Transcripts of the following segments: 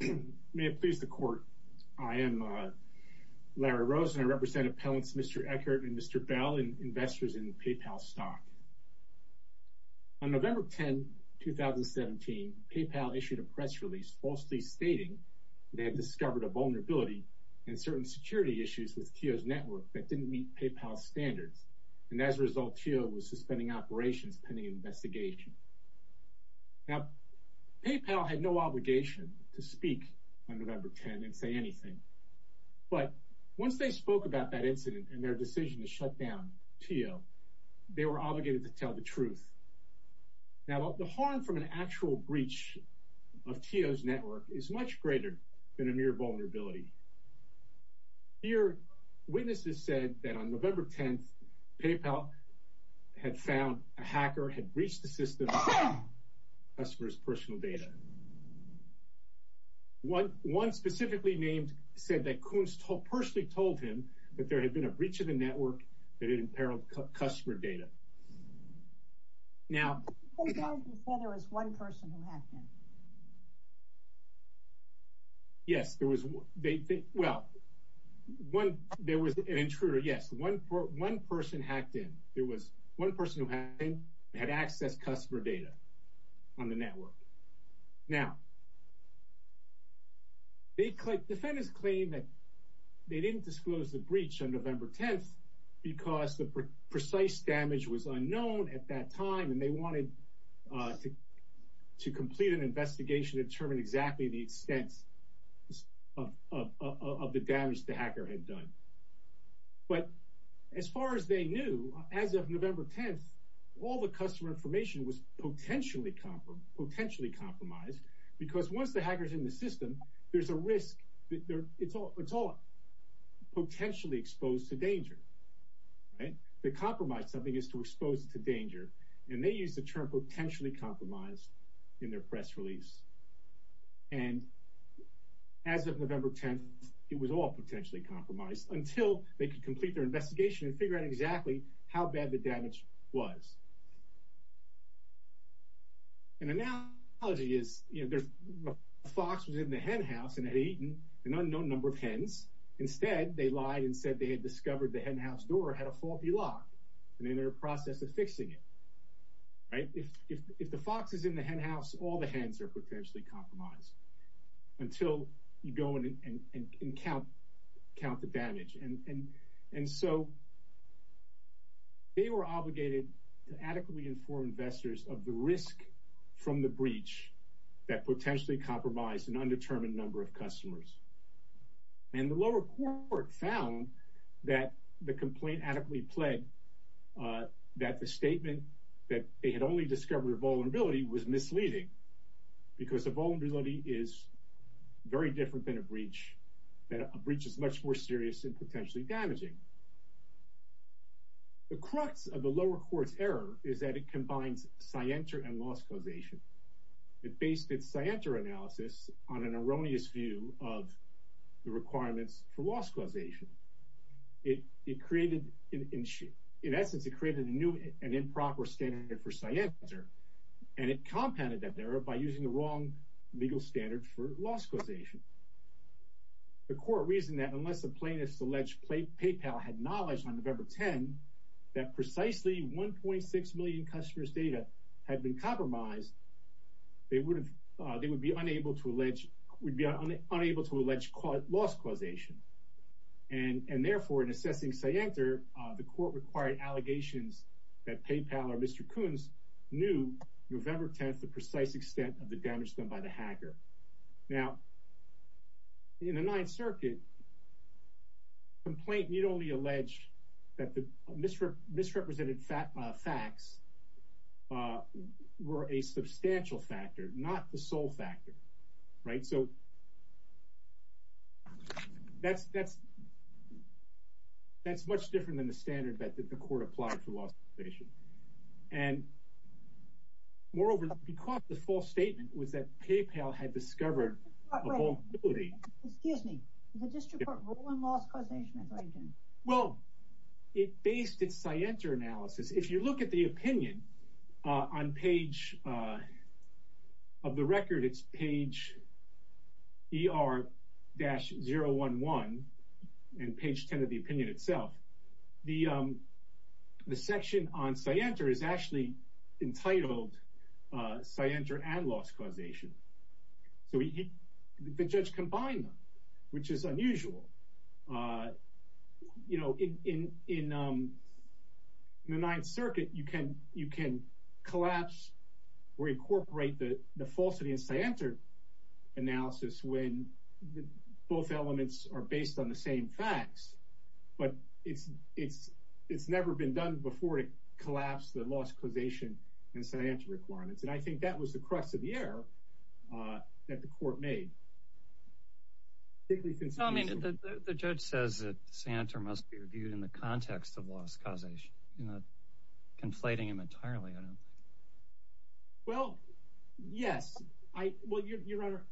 May it please the court. I am Larry Rosen. I represent appellants Mr. Eckert and Mr. Bell, investors in PayPal stock. On November 10, 2017, PayPal issued a press release falsely stating they had discovered a vulnerability in certain security issues with Teal's network that didn't meet PayPal's standards. And as a result, Teal was suspending operations pending investigation. Now, PayPal had no obligation to speak on November 10 and say anything. But once they spoke about that incident and their decision to shut down Teal, they were obligated to tell the truth. Now, the harm from an actual breach of Teal's network is much greater than a mere vulnerability. Here, witnesses said that on November 10, PayPal had found a hacker had breached the system of a customer's personal data. One specifically named said that Coons personally told him that there had been a breach of the network that had imperiled customer data. Now, You said there was one person who hacked in. Yes, there was. Well, there was an intruder. Yes, one person hacked in. There was one person who had access to customer data on the network. Now, Defendants claimed that they didn't disclose the breach on November 10 because the precise damage was unknown at that time, and they wanted to complete an investigation to determine exactly the extent of the damage the hacker had done. But as far as they knew, as of November 10, all the customer information was potentially compromised, because once the hacker is in the system, there's a risk that it's all potentially exposed to danger. To compromise something is to expose it to danger. And they used the term potentially compromised in their press release. And as of November 10, it was all potentially compromised until they could complete their investigation and figure out exactly how bad the damage was. An analogy is, you know, there's a fox was in the hen house and had eaten an unknown number of hens. Instead, they lied and said they had discovered the hen house door had a faulty lock and in their process of fixing it. Right? If the fox is in the hen house, all the hens are potentially compromised until you go in and count the damage. And so they were obligated to adequately inform investors of the risk from the breach that potentially compromised an undetermined number of customers. And the lower court found that the complaint adequately pled that the statement that they had only discovered a vulnerability was misleading, because a vulnerability is very different than a breach. A breach is much more serious and potentially damaging. The crux of the lower court's error is that it combines scienter and loss causation. It based its scienter analysis on an erroneous view of the requirements for loss causation. It created, in essence, it created a new and improper standard for scienter. And it compounded that error by using the wrong legal standard for loss causation. The court reasoned that unless a plaintiff's alleged PayPal had knowledge on November 10 that precisely 1.6 million customers' data had been compromised, they would be unable to allege loss causation. And therefore, in assessing scienter, the court required allegations that PayPal or Mr. Kunz knew November 10th the precise extent of the damage done by the hacker. Now, in the Ninth Circuit, complaint need only allege that the misrepresented facts were a substantial factor, not the sole factor, right? So that's much different than the standard that the court applied for loss causation. Moreover, the court's false statement was that PayPal had discovered a vulnerability. Excuse me, the district court ruled on loss causation? Well, it based its scienter analysis. If you look at the opinion on page of the record, it's page ER-011 and page 10 of the opinion itself. The section on scienter is actually entitled scienter and loss causation. So the judge combined them, which is unusual. You know, in the Ninth Circuit, you can collapse or incorporate the falsity in scienter analysis when both elements are based on the same facts. But it's never been done before to collapse the loss causation and scienter requirements. And I think that was the crux of the error that the court made. I mean, the judge says that scienter must be reviewed in the context of loss causation, you know, conflating him entirely. Well, yes. Well, Your Honor,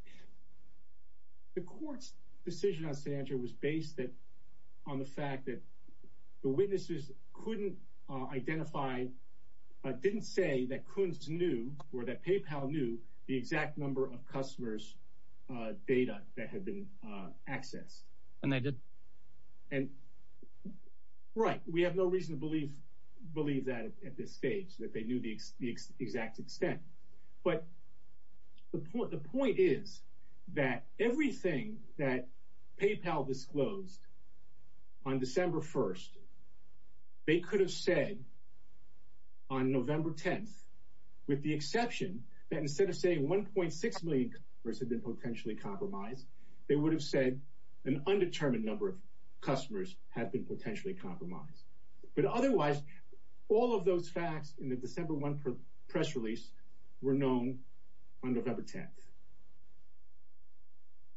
the court's decision on scienter was based on the fact that the witnesses couldn't identify, didn't say that Kunz knew or that PayPal knew the exact number of customers' data that had been accessed. And they did? And right. We have no reason to believe that at this stage, that they knew the exact extent. But the point is that everything that PayPal disclosed on December 1st, they could have said on November 10th, with the exception that instead of saying 1.6 million have been potentially compromised, they would have said an undetermined number of customers have been potentially compromised. But otherwise, all of those facts in the December 1 press release were known on November 10th.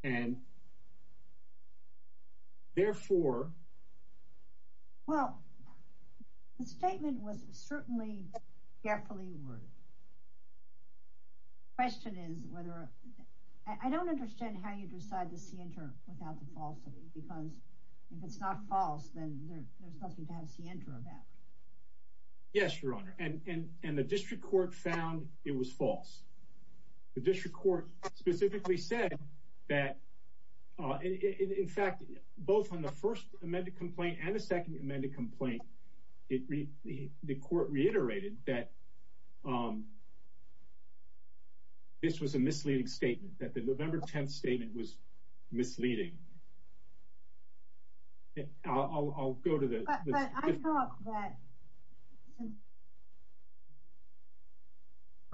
And therefore. Well, the statement was certainly carefully worded. Question is whether I don't understand how you decide the scienter without the falsity, because if it's not false, then there's nothing to have scienter about. Yes, Your Honor. And the district court found it was false. The district court specifically said that, in fact, both on the first amended complaint and the second amended complaint, the court reiterated that this was a misleading statement, that the November 10th statement was misleading. I'll go to that. But I thought that since they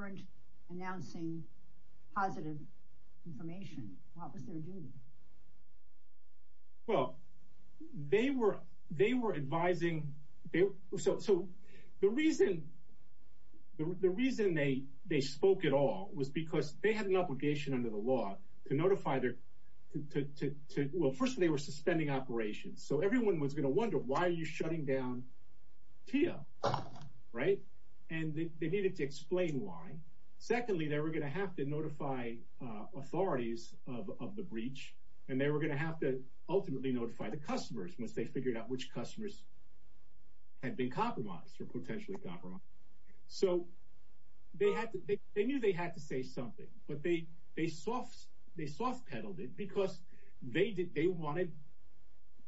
weren't announcing positive information, what was their duty? Well, they were they were advising. So so the reason the reason they they spoke at all was because they had an obligation under the law to notify their to. Well, first, they were suspending operations. So everyone was going to wonder, why are you shutting down here? Right. And they needed to explain why. Secondly, they were going to have to notify authorities of the breach and they were going to have to ultimately notify the customers once they figured out which customers had been compromised or potentially. So they had to. They knew they had to say something, but they they soft. They soft peddled it because they did. They wanted.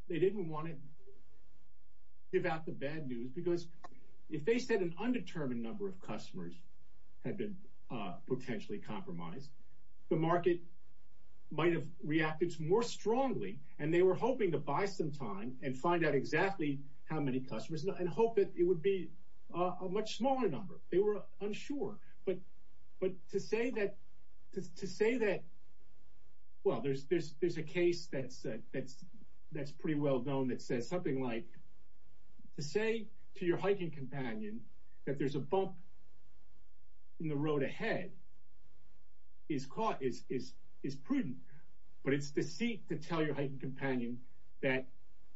They didn't want it. Give out the bad news, because if they said an undetermined number of customers had been potentially compromised, the market might have reacted more strongly. And they were hoping to buy some time and find out exactly how many customers and hope that it would be a much smaller number. They were they were unsure. But but to say that to say that. Well, there's there's there's a case that's that's that's pretty well known that says something like to say to your hiking companion that there's a bump in the road ahead. Is caught is is is prudent, but it's deceit to tell your hiking companion that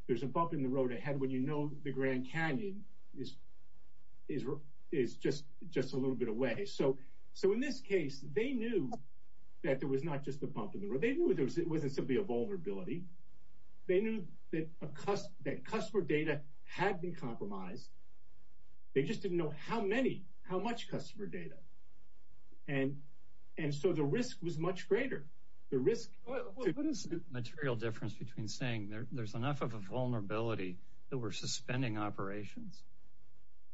there's a bump in the road ahead when you know the Grand Canyon is is is just just a little bit away. So so in this case, they knew that there was not just a bump in the road. They knew it was it wasn't simply a vulnerability. They knew that a cost that customer data had been compromised. They just didn't know how many how much customer data. And and so the risk was much greater. The risk is material difference between saying there's enough of a vulnerability that we're suspending operations.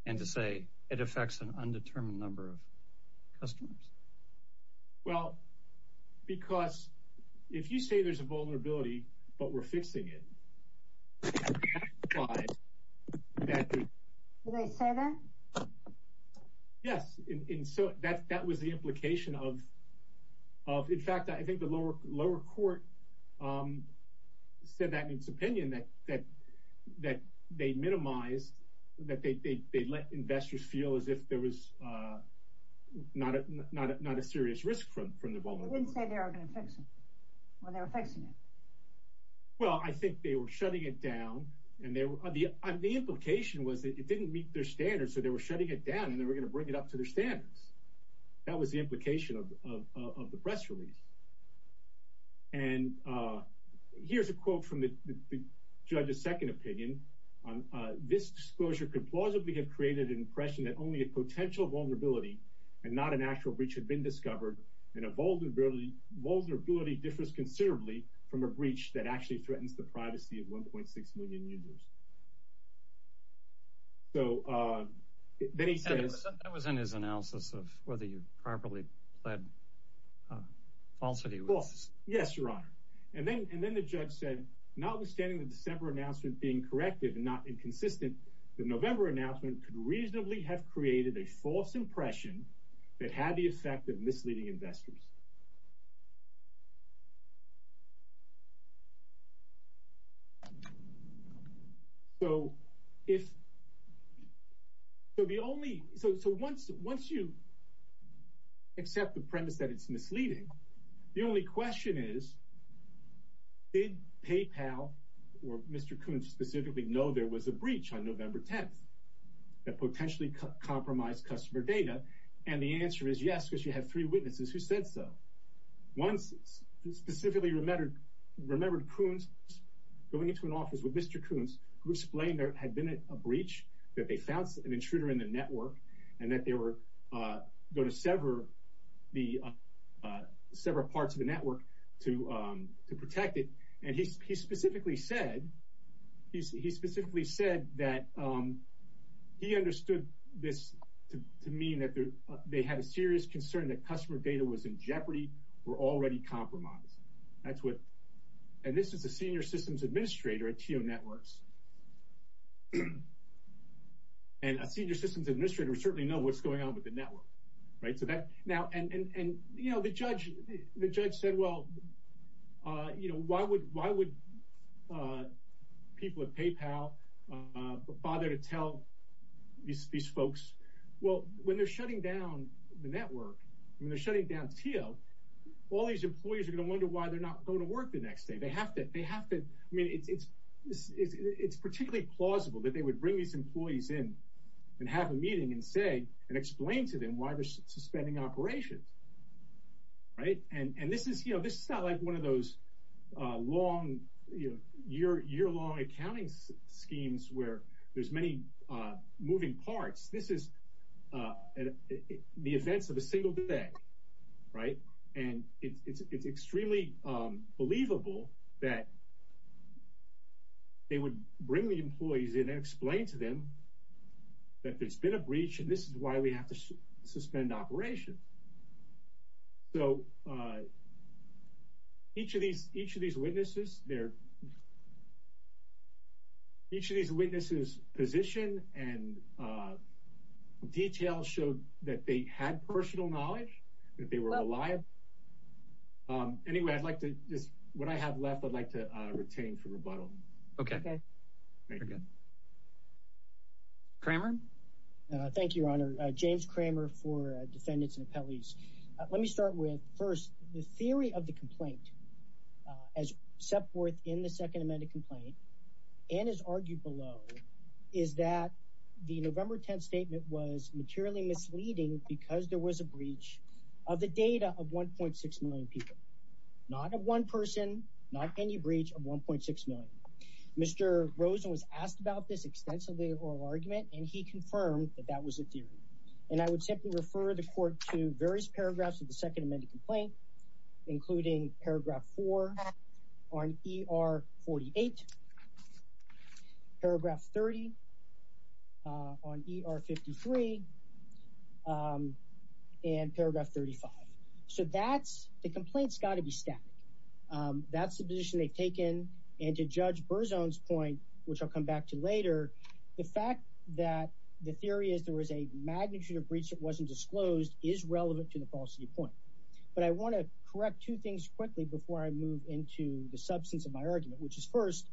And to say it affects an undetermined number of customers. Well, because if you say there's a vulnerability, but we're fixing it. They say that. Yes. And so that's that was the implication of. In fact, I think the lower lower court said that in its opinion that that that they minimized that they let investors feel as if there was not not not a serious risk from from the ball. They didn't say they were going to fix it when they were fixing it. Well, I think they were shutting it down. And the implication was that it didn't meet their standards. So they were shutting it down and they were going to bring it up to their standards. That was the implication of the press release. And here's a quote from the judge's second opinion. This disclosure could plausibly have created an impression that only a potential vulnerability and not an actual breach had been discovered in a vulnerability. Vulnerability differs considerably from a breach that actually threatens the privacy of 1.6 million users. So then he said it was in his analysis of whether you properly pled falsity. Yes, Your Honor. And then and then the judge said, notwithstanding the December announcement being corrected and not inconsistent, the November announcement could reasonably have created a false impression that had the effect of misleading investors. So if the only so once once you accept the premise that it's misleading, the only question is, did PayPal or Mr. Once specifically remembered, remembered Coons going into an office with Mr. Coons, who explained there had been a breach that they found an intruder in the network and that they were going to sever the several parts of the network to protect it. And he specifically said he specifically said that he understood this to mean that they had a serious concern that customer data was in jeopardy or already compromised. That's what and this is a senior systems administrator at Tio Networks. And a senior systems administrator certainly know what's going on with the network. Right. So that now and you know, the judge, the judge said, well, you know, why would why would people at PayPal bother to tell these folks? Well, when they're shutting down the network, when they're shutting down Tio, all these employees are going to wonder why they're not going to work the next day. They have to. They have to. I mean, it's it's it's particularly plausible that they would bring these employees in and have a meeting and say and explain to them why they're suspending operations. Right. And this is you know, this is not like one of those long year, year long accounting schemes where there's many moving parts. This is the events of a single day. Right. And it's extremely believable that they would bring the employees in and explain to them that there's been a breach. And this is why we have to suspend operation. So. Each of these each of these witnesses there. Each of these witnesses position and detail showed that they had personal knowledge that they were alive. Anyway, I'd like to just what I have left, I'd like to retain for rebuttal. OK. Kramer. Thank you, Your Honor. James Kramer for defendants and appellees. Let me start with first the theory of the complaint as set forth in the second amended complaint and is argued below is that the November 10th statement was materially misleading because there was a breach of the data of one point six million people. Not a one person, not any breach of one point six million. Mr. Rosen was asked about this extensively or argument, and he confirmed that that was a theory. And I would simply refer the court to various paragraphs of the second amended complaint, including paragraph four on E.R. 48 paragraph 30 on E.R. 53 and paragraph 35. So that's the complaints got to be static. That's the position they've taken. And to judge Burzon's point, which I'll come back to later, the fact that the theory is there was a magnitude of breach that wasn't disclosed is relevant to the falsity point. But I want to correct two things quickly before I move into the substance of my argument, which is first,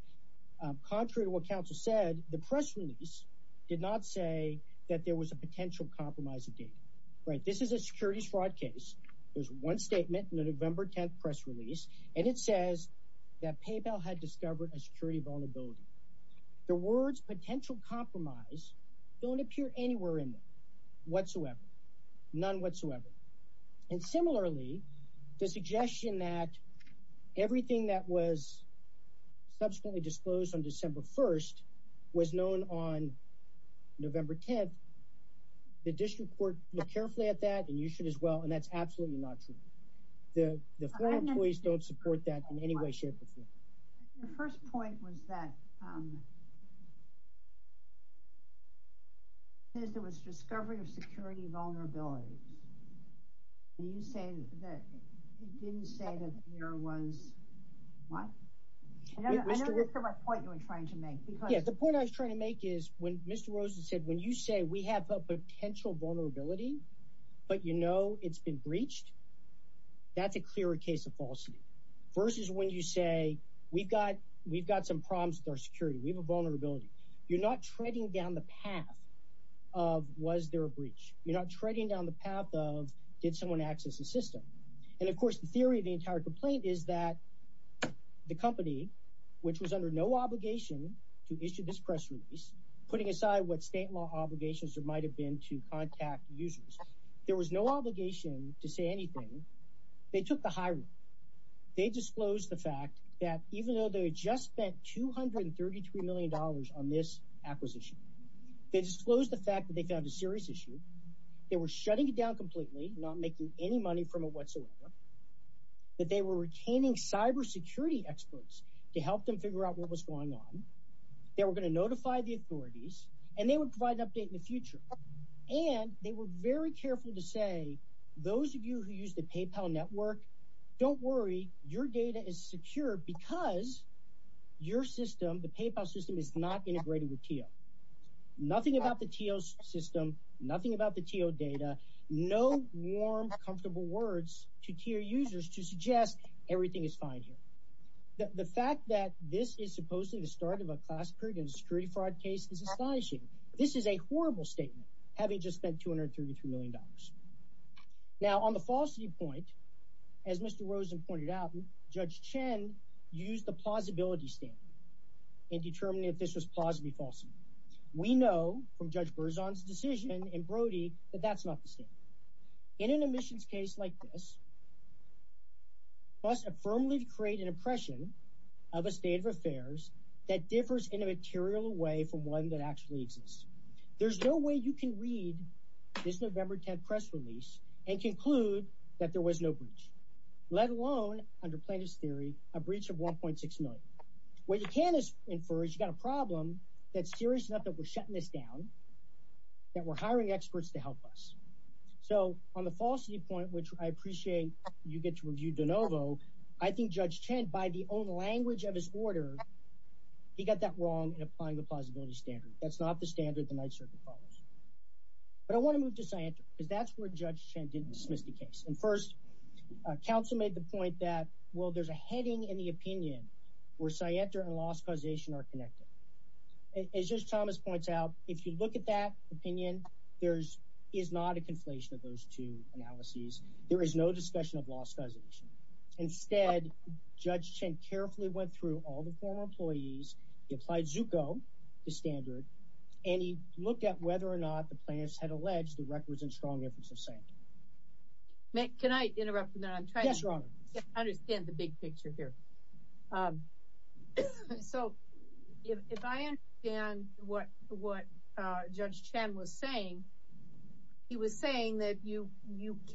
contrary to what counsel said, the press release did not say that there was a potential compromise of data. Right. This is a securities fraud case. There's one statement in the November 10th press release. And it says that PayPal had discovered a security vulnerability. The words potential compromise don't appear anywhere in whatsoever, none whatsoever. And similarly, the suggestion that everything that was subsequently disclosed on December 1st was known on November 10th. The district court look carefully at that and you should as well. And that's absolutely not true. The employees don't support that in any way, shape or form. The first point was that. There was discovery of security vulnerabilities. You say that you didn't say that there was one point you were trying to make because the point I was trying to make is when Mr. But, you know, it's been breached. That's a clear case of falsity versus when you say we've got we've got some problems with our security. We have a vulnerability. You're not treading down the path of was there a breach? You're not treading down the path of did someone access the system? And, of course, the theory of the entire complaint is that the company, which was under no obligation to issue this press release, putting aside what state law obligations there might have been to contact users. There was no obligation to say anything. They took the hiring. They disclosed the fact that even though they just spent two hundred and thirty three million dollars on this acquisition, they disclosed the fact that they found a serious issue. They were shutting it down completely, not making any money from it whatsoever, that they were retaining cybersecurity experts to help them figure out what was going on. They were going to notify the authorities and they would provide an update in the future. And they were very careful to say, those of you who use the PayPal network, don't worry. Your data is secure because your system, the PayPal system, is not integrated with you. Nothing about the system, nothing about the data, no warm, comfortable words to your users to suggest everything is fine here. The fact that this is supposedly the start of a class purge and street fraud case is astonishing. This is a horrible statement. Having just spent two hundred thirty three million dollars. Now, on the falsity point, as Mr. Rosen pointed out, Judge Chen used the plausibility standard in determining if this was possibly false. We know from Judge Burzon's decision and Brody that that's not the state in an admissions case like this. Must affirmly create an impression of a state of affairs that differs in a material way from one that actually exists. There's no way you can read this November 10th press release and conclude that there was no breach, let alone under plaintiff's theory, a breach of one point six million. What you can infer is you've got a problem that's serious enough that we're shutting this down, that we're hiring experts to help us. So on the falsity point, which I appreciate, you get to review DeNovo. I think Judge Chen, by the own language of his order, he got that wrong in applying the plausibility standard. That's not the standard the Ninth Circuit follows. But I want to move to science because that's where Judge Chen didn't dismiss the case. And first, counsel made the point that, well, there's a heading in the opinion where I enter and lost causation are connected. As just Thomas points out, if you look at that opinion, there's is not a conflation of those two analyses. There is no discussion of lost causation. Instead, Judge Chen carefully went through all the former employees. He applied Zucco, the standard, and he looked at whether or not the plaintiffs had alleged the records and strong evidence of saying. Can I interrupt? Yes, Your Honor. I understand the big picture here. So if I understand what Judge Chen was saying, he was saying that you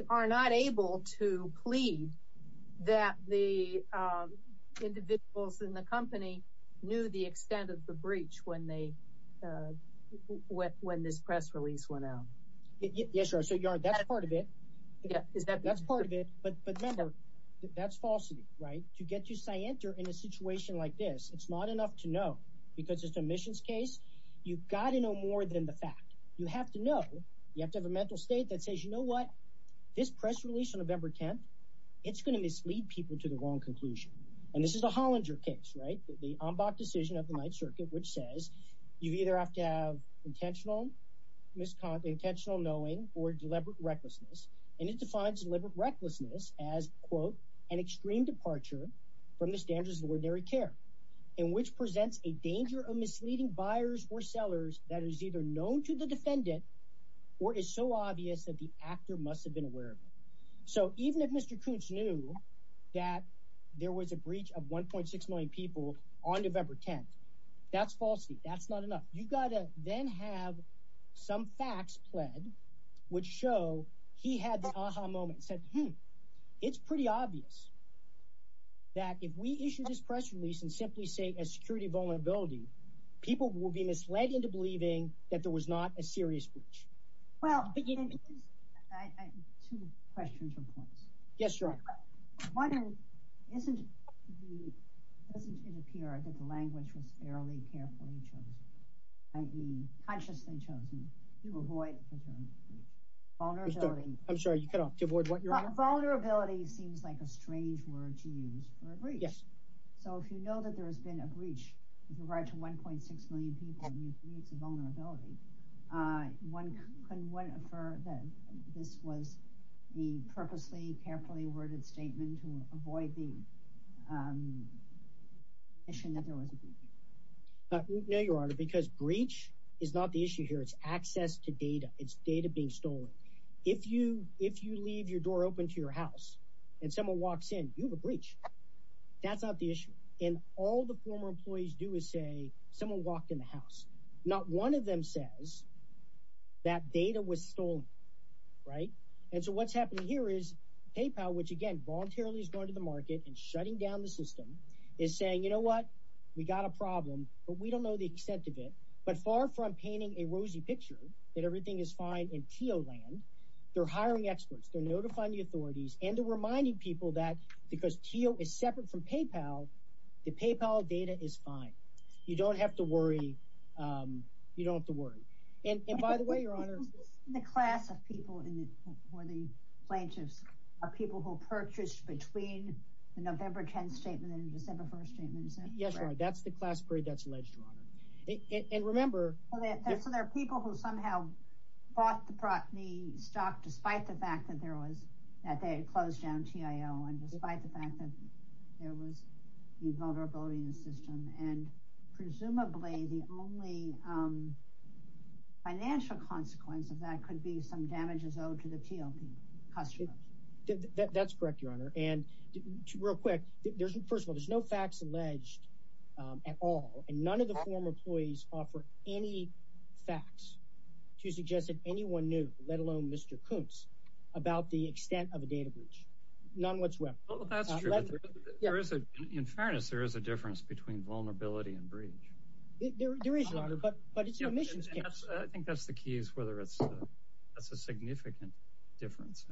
are not able to plead that the individuals in the company knew the extent of the breach when this press release went out. Yes, Your Honor. That's part of it. That's part of it. But remember, that's falsity, right? To get to say enter in a situation like this, it's not enough to know because it's a missions case. You've got to know more than the fact you have to know. You have to have a mental state that says, you know what? This press release on November 10th, it's going to mislead people to the wrong conclusion. And this is a Hollinger case, right? The decision of the Ninth Circuit, which says you either have to have intentional knowing or deliberate recklessness. And it defines deliberate recklessness as, quote, an extreme departure from the standards of ordinary care in which presents a danger of misleading buyers or sellers that is either known to the defendant or is so obvious that the actor must have been aware of it. So even if Mr. Koontz knew that there was a breach of 1.6 million people on November 10th, that's falsity. That's not enough. You've got to then have some facts pled which show he had the aha moment and said, hmm, it's pretty obvious that if we issue this press release and simply say a security vulnerability, people will be misled into believing that there was not a serious breach. Well, two questions or points. Yes, sure. One, doesn't it appear that the language was fairly carefully chosen, i.e. consciously chosen to avoid a breach? I'm sorry, to avoid what, Your Honor? Vulnerability seems like a strange word to use for a breach. So if you know that there has been a breach with regard to 1.6 million people and you've reached a vulnerability, can one infer that this was a purposely, carefully worded statement to avoid the admission that there was a breach? No, Your Honor, because breach is not the issue here. It's access to data. It's data being stolen. If you leave your door open to your house and someone walks in, you have a breach. That's not the issue. And all the former employees do is say someone walked in the house. Not one of them says that data was stolen. Right. And so what's happening here is PayPal, which, again, voluntarily is going to the market and shutting down the system, is saying, you know what, we got a problem, but we don't know the extent of it. But far from painting a rosy picture that everything is fine in TO land, they're hiring experts. They're notifying the authorities and reminding people that because TO is separate from PayPal, the PayPal data is fine. You don't have to worry. You don't have to worry. And by the way, Your Honor. The class of people who are the plaintiffs are people who purchased between the November 10th statement and the December 1st statement. Yes, Your Honor. That's the class period that's alleged, Your Honor. And remember. So there are people who somehow bought the stock despite the fact that they had closed down TIO and despite the fact that there was a vulnerability in the system. And presumably the only financial consequence of that could be some damages owed to the TO customers. That's correct, Your Honor. And real quick, first of all, there's no facts alleged at all. And none of the former employees offer any facts to suggest that anyone knew, let alone Mr. Koontz, about the extent of a data breach. None whatsoever. That's true. In fairness, there is a difference between vulnerability and breach. There is, Your Honor, but it's an admissions case. I think that's the key is whether it's a significant difference.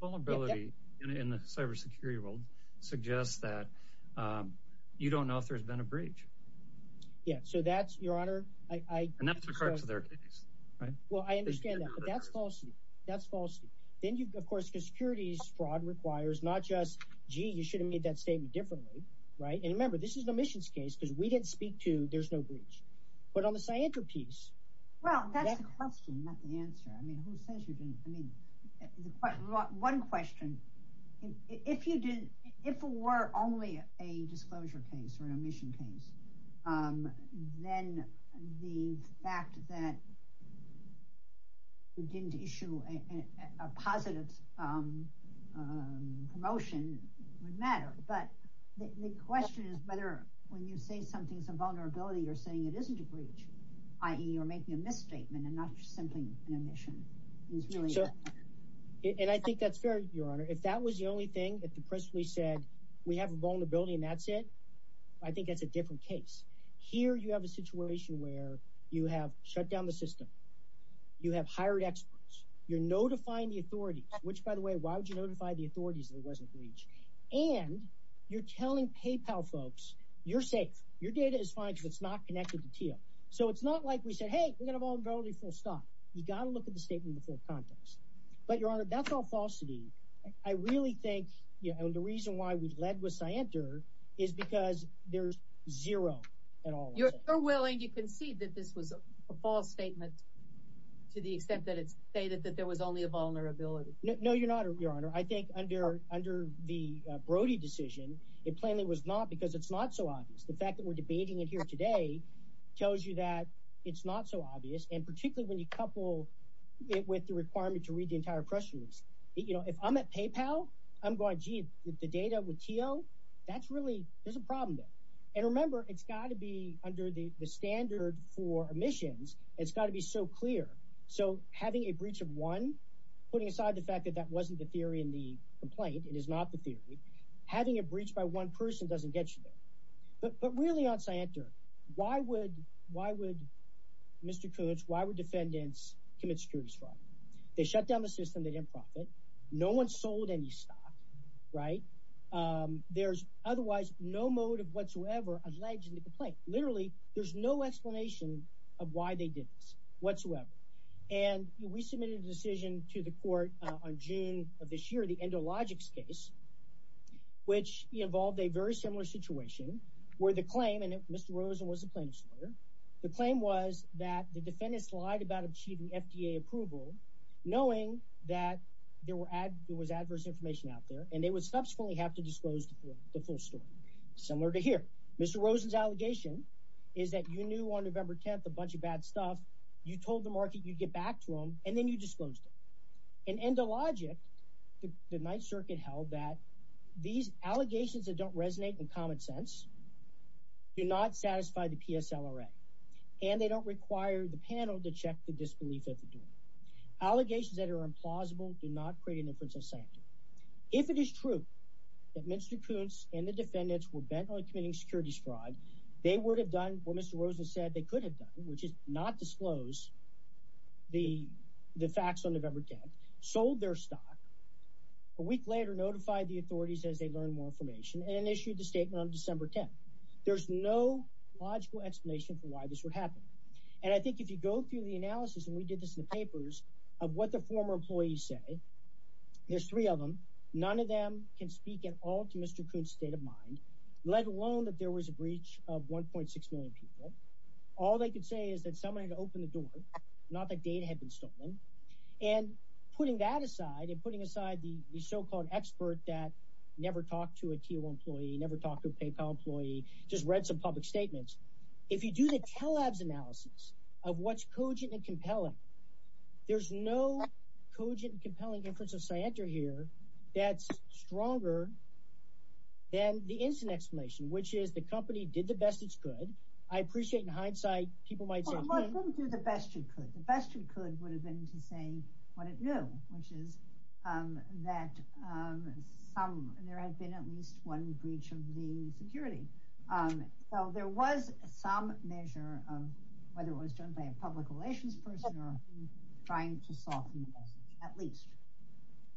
Vulnerability in the cybersecurity world suggests that you don't know if there's been a breach. Yes. So that's, Your Honor. And that's in regards to their case. Well, I understand that. But that's false. That's false. Then, of course, the securities fraud requires not just, gee, you should have made that statement differently. Right. And remember, this is an admissions case because we didn't speak to there's no breach. But on the Scientra piece. Well, that's the question, not the answer. I mean, who says you didn't? One question. If you did, if it were only a disclosure case or an admission case, then the fact that you didn't issue a positive promotion would matter. But the question is whether when you say something's a vulnerability, you're saying it isn't a breach, i.e. you're making a misstatement and not simply an admission. And I think that's fair, Your Honor. If that was the only thing that the press release said, we have a vulnerability and that's it, I think that's a different case. Here you have a situation where you have shut down the system. You have hired experts. You're notifying the authorities, which, by the way, why would you notify the authorities that it wasn't a breach? And you're telling PayPal folks, you're safe. Your data is fine because it's not connected to Teal. So it's not like we said, hey, we've got a vulnerability, full stop. You've got to look at the statement in full context. But, Your Honor, that's all falsity. I really think the reason why we've led with Scienter is because there's zero at all. You're willing to concede that this was a false statement to the extent that it's stated that there was only a vulnerability? No, Your Honor. I think under the Brody decision, it plainly was not because it's not so obvious. The fact that we're debating it here today tells you that it's not so obvious. And particularly when you couple it with the requirement to read the entire press release. If I'm at PayPal, I'm going, gee, the data with Teal, that's really, there's a problem there. And remember, it's got to be under the standard for omissions. It's got to be so clear. So having a breach of one, putting aside the fact that that wasn't the theory in the complaint, it is not the theory, having a breach by one person doesn't get you there. But really on Scienter, why would Mr. Koontz, why would defendants commit securities fraud? They shut down the system, they didn't profit. No one sold any stock, right? There's otherwise no motive whatsoever alleged in the complaint. Literally, there's no explanation of why they did this whatsoever. And we submitted a decision to the court on June of this year, the Endologics case, which involved a very similar situation where the claim, and Mr. Rosen was the plaintiff's lawyer, the claim was that the defendants lied about achieving FDA approval, knowing that there was adverse information out there, and they would subsequently have to disclose the full story. Similar to here. Mr. Rosen's allegation is that you knew on November 10th a bunch of bad stuff. You told the market you'd get back to them, and then you disclosed it. In Endologic, the Ninth Circuit held that these allegations that don't resonate in common sense do not satisfy the PSLRA, and they don't require the panel to check the disbelief at the door. Allegations that are implausible do not create an inference of Scienter. If it is true that Mr. Koontz and the defendants were bent on committing securities fraud, they would have done what Mr. Rosen said they could have done, which is not disclose the facts on November 10th, sold their stock, a week later notified the authorities as they learned more information, and issued a statement on December 10th. There's no logical explanation for why this would happen. And I think if you go through the analysis, and we did this in the papers, of what the former employees say, there's three of them, none of them can speak at all to Mr. Koontz's state of mind, let alone that there was a breach of 1.6 million people. All they could say is that somebody had opened the door, not that data had been stolen. And putting that aside, and putting aside the so-called expert that never talked to a TIO employee, never talked to a PayPal employee, just read some public statements, if you do the Telabs analysis of what's cogent and compelling, there's no cogent and compelling in terms of scienter here, that's stronger than the instant explanation, which is the company did the best it could. I appreciate in hindsight, people might say... Well, it wouldn't do the best it could. The best it could would have been to say what it knew, which is that there had been at least one breach of the security. So there was some measure of whether it was done by a public relations person or trying to soften the message, at least.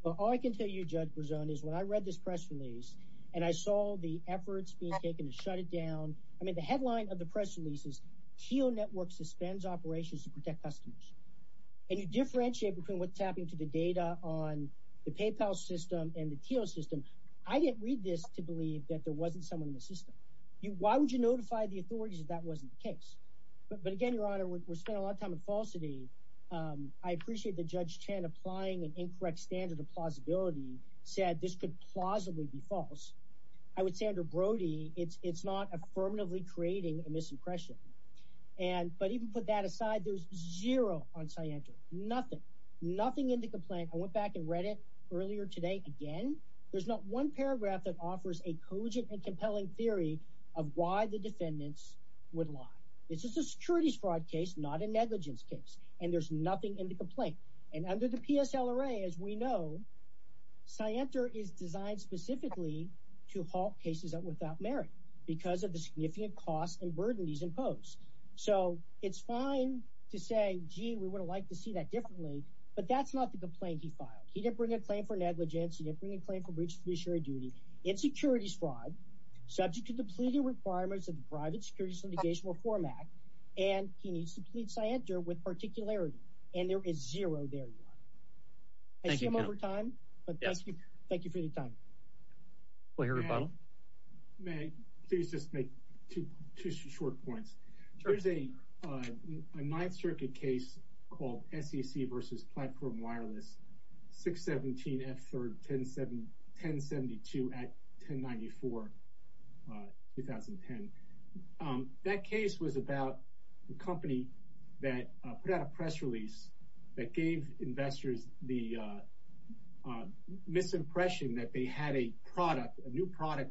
Well, all I can tell you, Judge Berzon, is when I read this press release, and I saw the efforts being taken to shut it down, I mean, the headline of the press release is, TIO network suspends operations to protect customers. And you differentiate between what's happening to the data on the PayPal system and the TIO system. I didn't read this to believe that there wasn't someone in the system. Why would you notify the authorities if that wasn't the case? But again, Your Honor, we're spending a lot of time on falsity. I appreciate that Judge Chen, applying an incorrect standard of plausibility, said this could plausibly be false. I would say under Brody, it's not affirmatively creating a misimpression. But even put that aside, there's zero on scienter. Nothing. Nothing in the complaint. I went back and read it earlier today again. There's not one paragraph that offers a cogent and compelling theory of why the defendants would lie. This is a securities fraud case, not a negligence case. And there's nothing in the complaint. And under the PSL array, as we know, scienter is designed specifically to halt cases that without merit, because of the significant costs and burden these impose. So it's fine to say, gee, we would have liked to see that differently. But that's not the complaint he filed. He didn't bring a claim for negligence. He didn't bring a claim for breach of fiduciary duty. It's securities fraud, subject to the pleading requirements of the private securities litigation reform act. And he needs to plead scienter with particularity. And there is zero there, Your Honor. I see I'm over time. But thank you for your time. We'll hear a rebuttal. May I please just make two short points? There's a Ninth Circuit case called SEC versus platform wireless, 617F1072 Act 1094, 2010. That case was about a company that put out a press release that gave investors the misimpression that they had a product,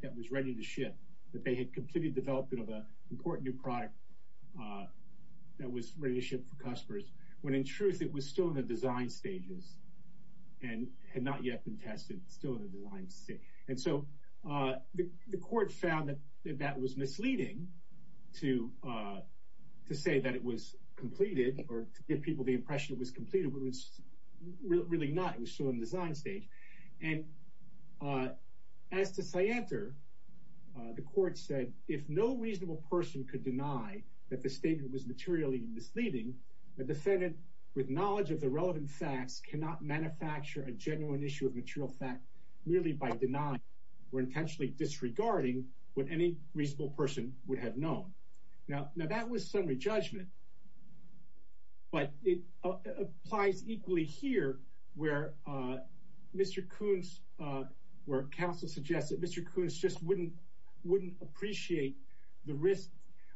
that was ready to ship, that they had completed development of an important new product that was ready to ship for customers, when in truth it was still in the design stages and had not yet been tested. It's still in the design stage. And so the court found that that was misleading to say that it was completed or to give people the impression it was completed, but it was really not. It was still in the design stage. And as to scienter, the court said, if no reasonable person could deny that the statement was materially misleading, a defendant with knowledge of the relevant facts cannot manufacture a genuine issue of material fact merely by denying or intentionally disregarding what any reasonable person would have known. Now, that was summary judgment. But it applies equally here where Mr. Coons, where counsel suggests that Mr. Coons just wouldn't appreciate the risk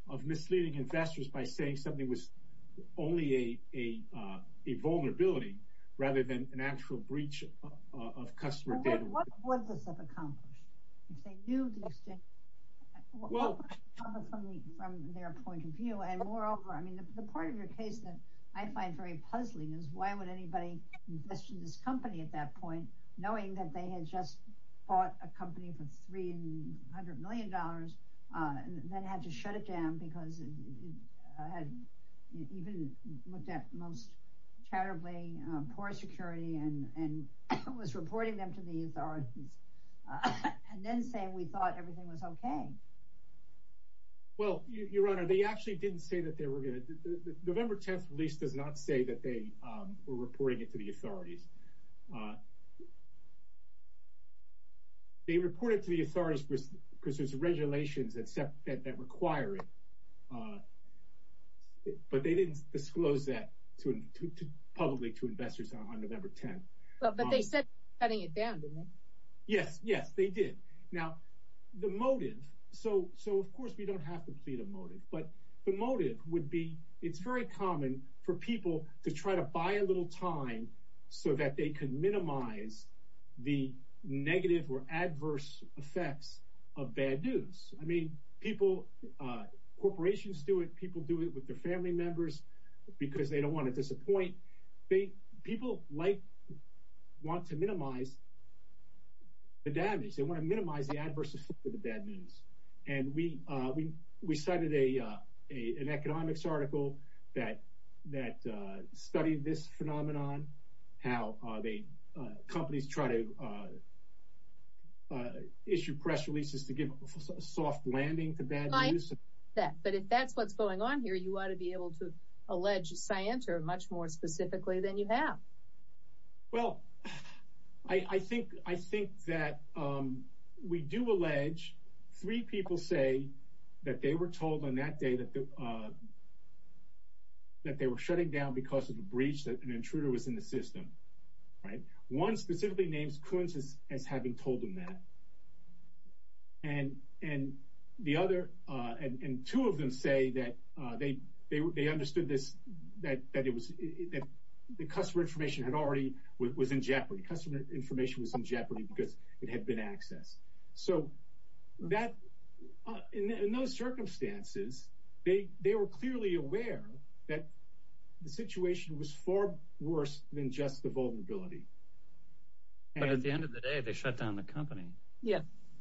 of misleading investors by saying something was only a vulnerability rather than an actual breach of customer data. What would this have accomplished? If they knew these things, from their point of view? And moreover, I mean, the part of your case that I find very puzzling is, why would anybody invest in this company at that point, knowing that they had just bought a company for $300 million and then had to shut it down because it had even looked at most charitably poor security and was reporting them to the authorities and then saying we thought everything was OK? Well, Your Honor, they actually didn't say that they were going to. The November 10th release does not say that they were reporting it to the authorities. They reported to the authorities because there's regulations that require it. But they didn't disclose that publicly to investors on November 10th. But they said shutting it down, didn't they? Yes, yes, they did. Now, the motive, so of course we don't have to plead a motive, but the motive would be it's very common for people to try to buy a little time so that they can minimize the negative or adverse effects of bad news. I mean, people, corporations do it. People do it with their family members because they don't want to disappoint. People want to minimize the damage. They want to minimize the adverse effects of the bad news. And we cited an economics article that studied this phenomenon, how companies try to issue press releases to give a soft landing to bad news. But if that's what's going on here, you ought to be able to allege scienter much more specifically than you have. Well, I think that we do allege three people say that they were told on that day that they were shutting down because of a breach that an intruder was in the system. One specifically names Kunz as having told them that. And two of them say that they understood that the customer information was in jeopardy because it had been accessed. So in those circumstances, they were clearly aware that the situation was far worse than just the vulnerability. But at the end of the day, they shut down the company. Yeah.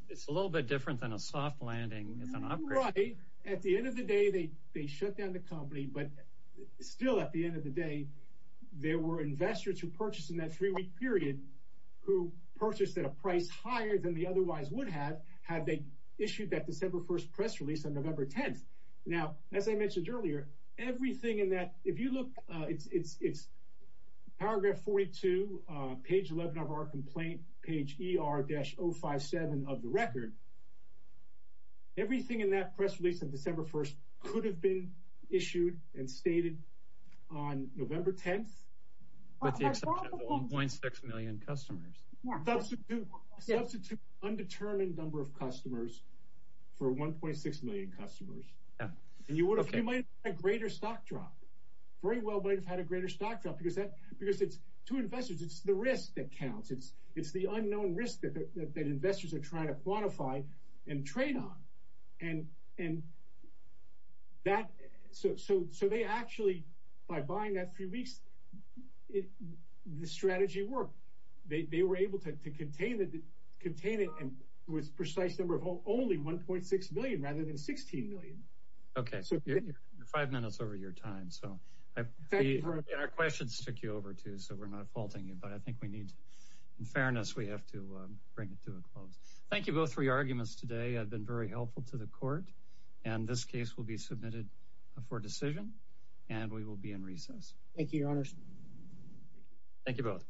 It's a little bit different than a soft landing. It's an upgrade. At the end of the day, they shut down the company. But still, at the end of the day, there were investors who purchased in that three-week period who purchased at a price higher than they otherwise would have had they issued that December 1st press release on November 10th. Now, as I mentioned earlier, everything in that, if you look, it's paragraph 42, page 11 of our complaint, page ER-057 of the record. Everything in that press release of December 1st could have been issued and stated on November 10th. With the exception of 1.6 million customers. Substitute undetermined number of customers for 1.6 million customers. And you might have had a greater stock drop. Very well might have had a greater stock drop because it's two investors. It's the risk that counts. It's the unknown risk that investors are trying to quantify and trade on. So they actually, by buying that three weeks, the strategy worked. They were able to contain it with precise number of only 1.6 million rather than 16 million. Okay. You're five minutes over your time. Our questions took you over, too, so we're not faulting you. But I think we need, in fairness, we have to bring it to a close. Thank you both for your arguments today. I've been very helpful to the court. And this case will be submitted for decision. And we will be in recess. Thank you, Your Honors. Thank you both.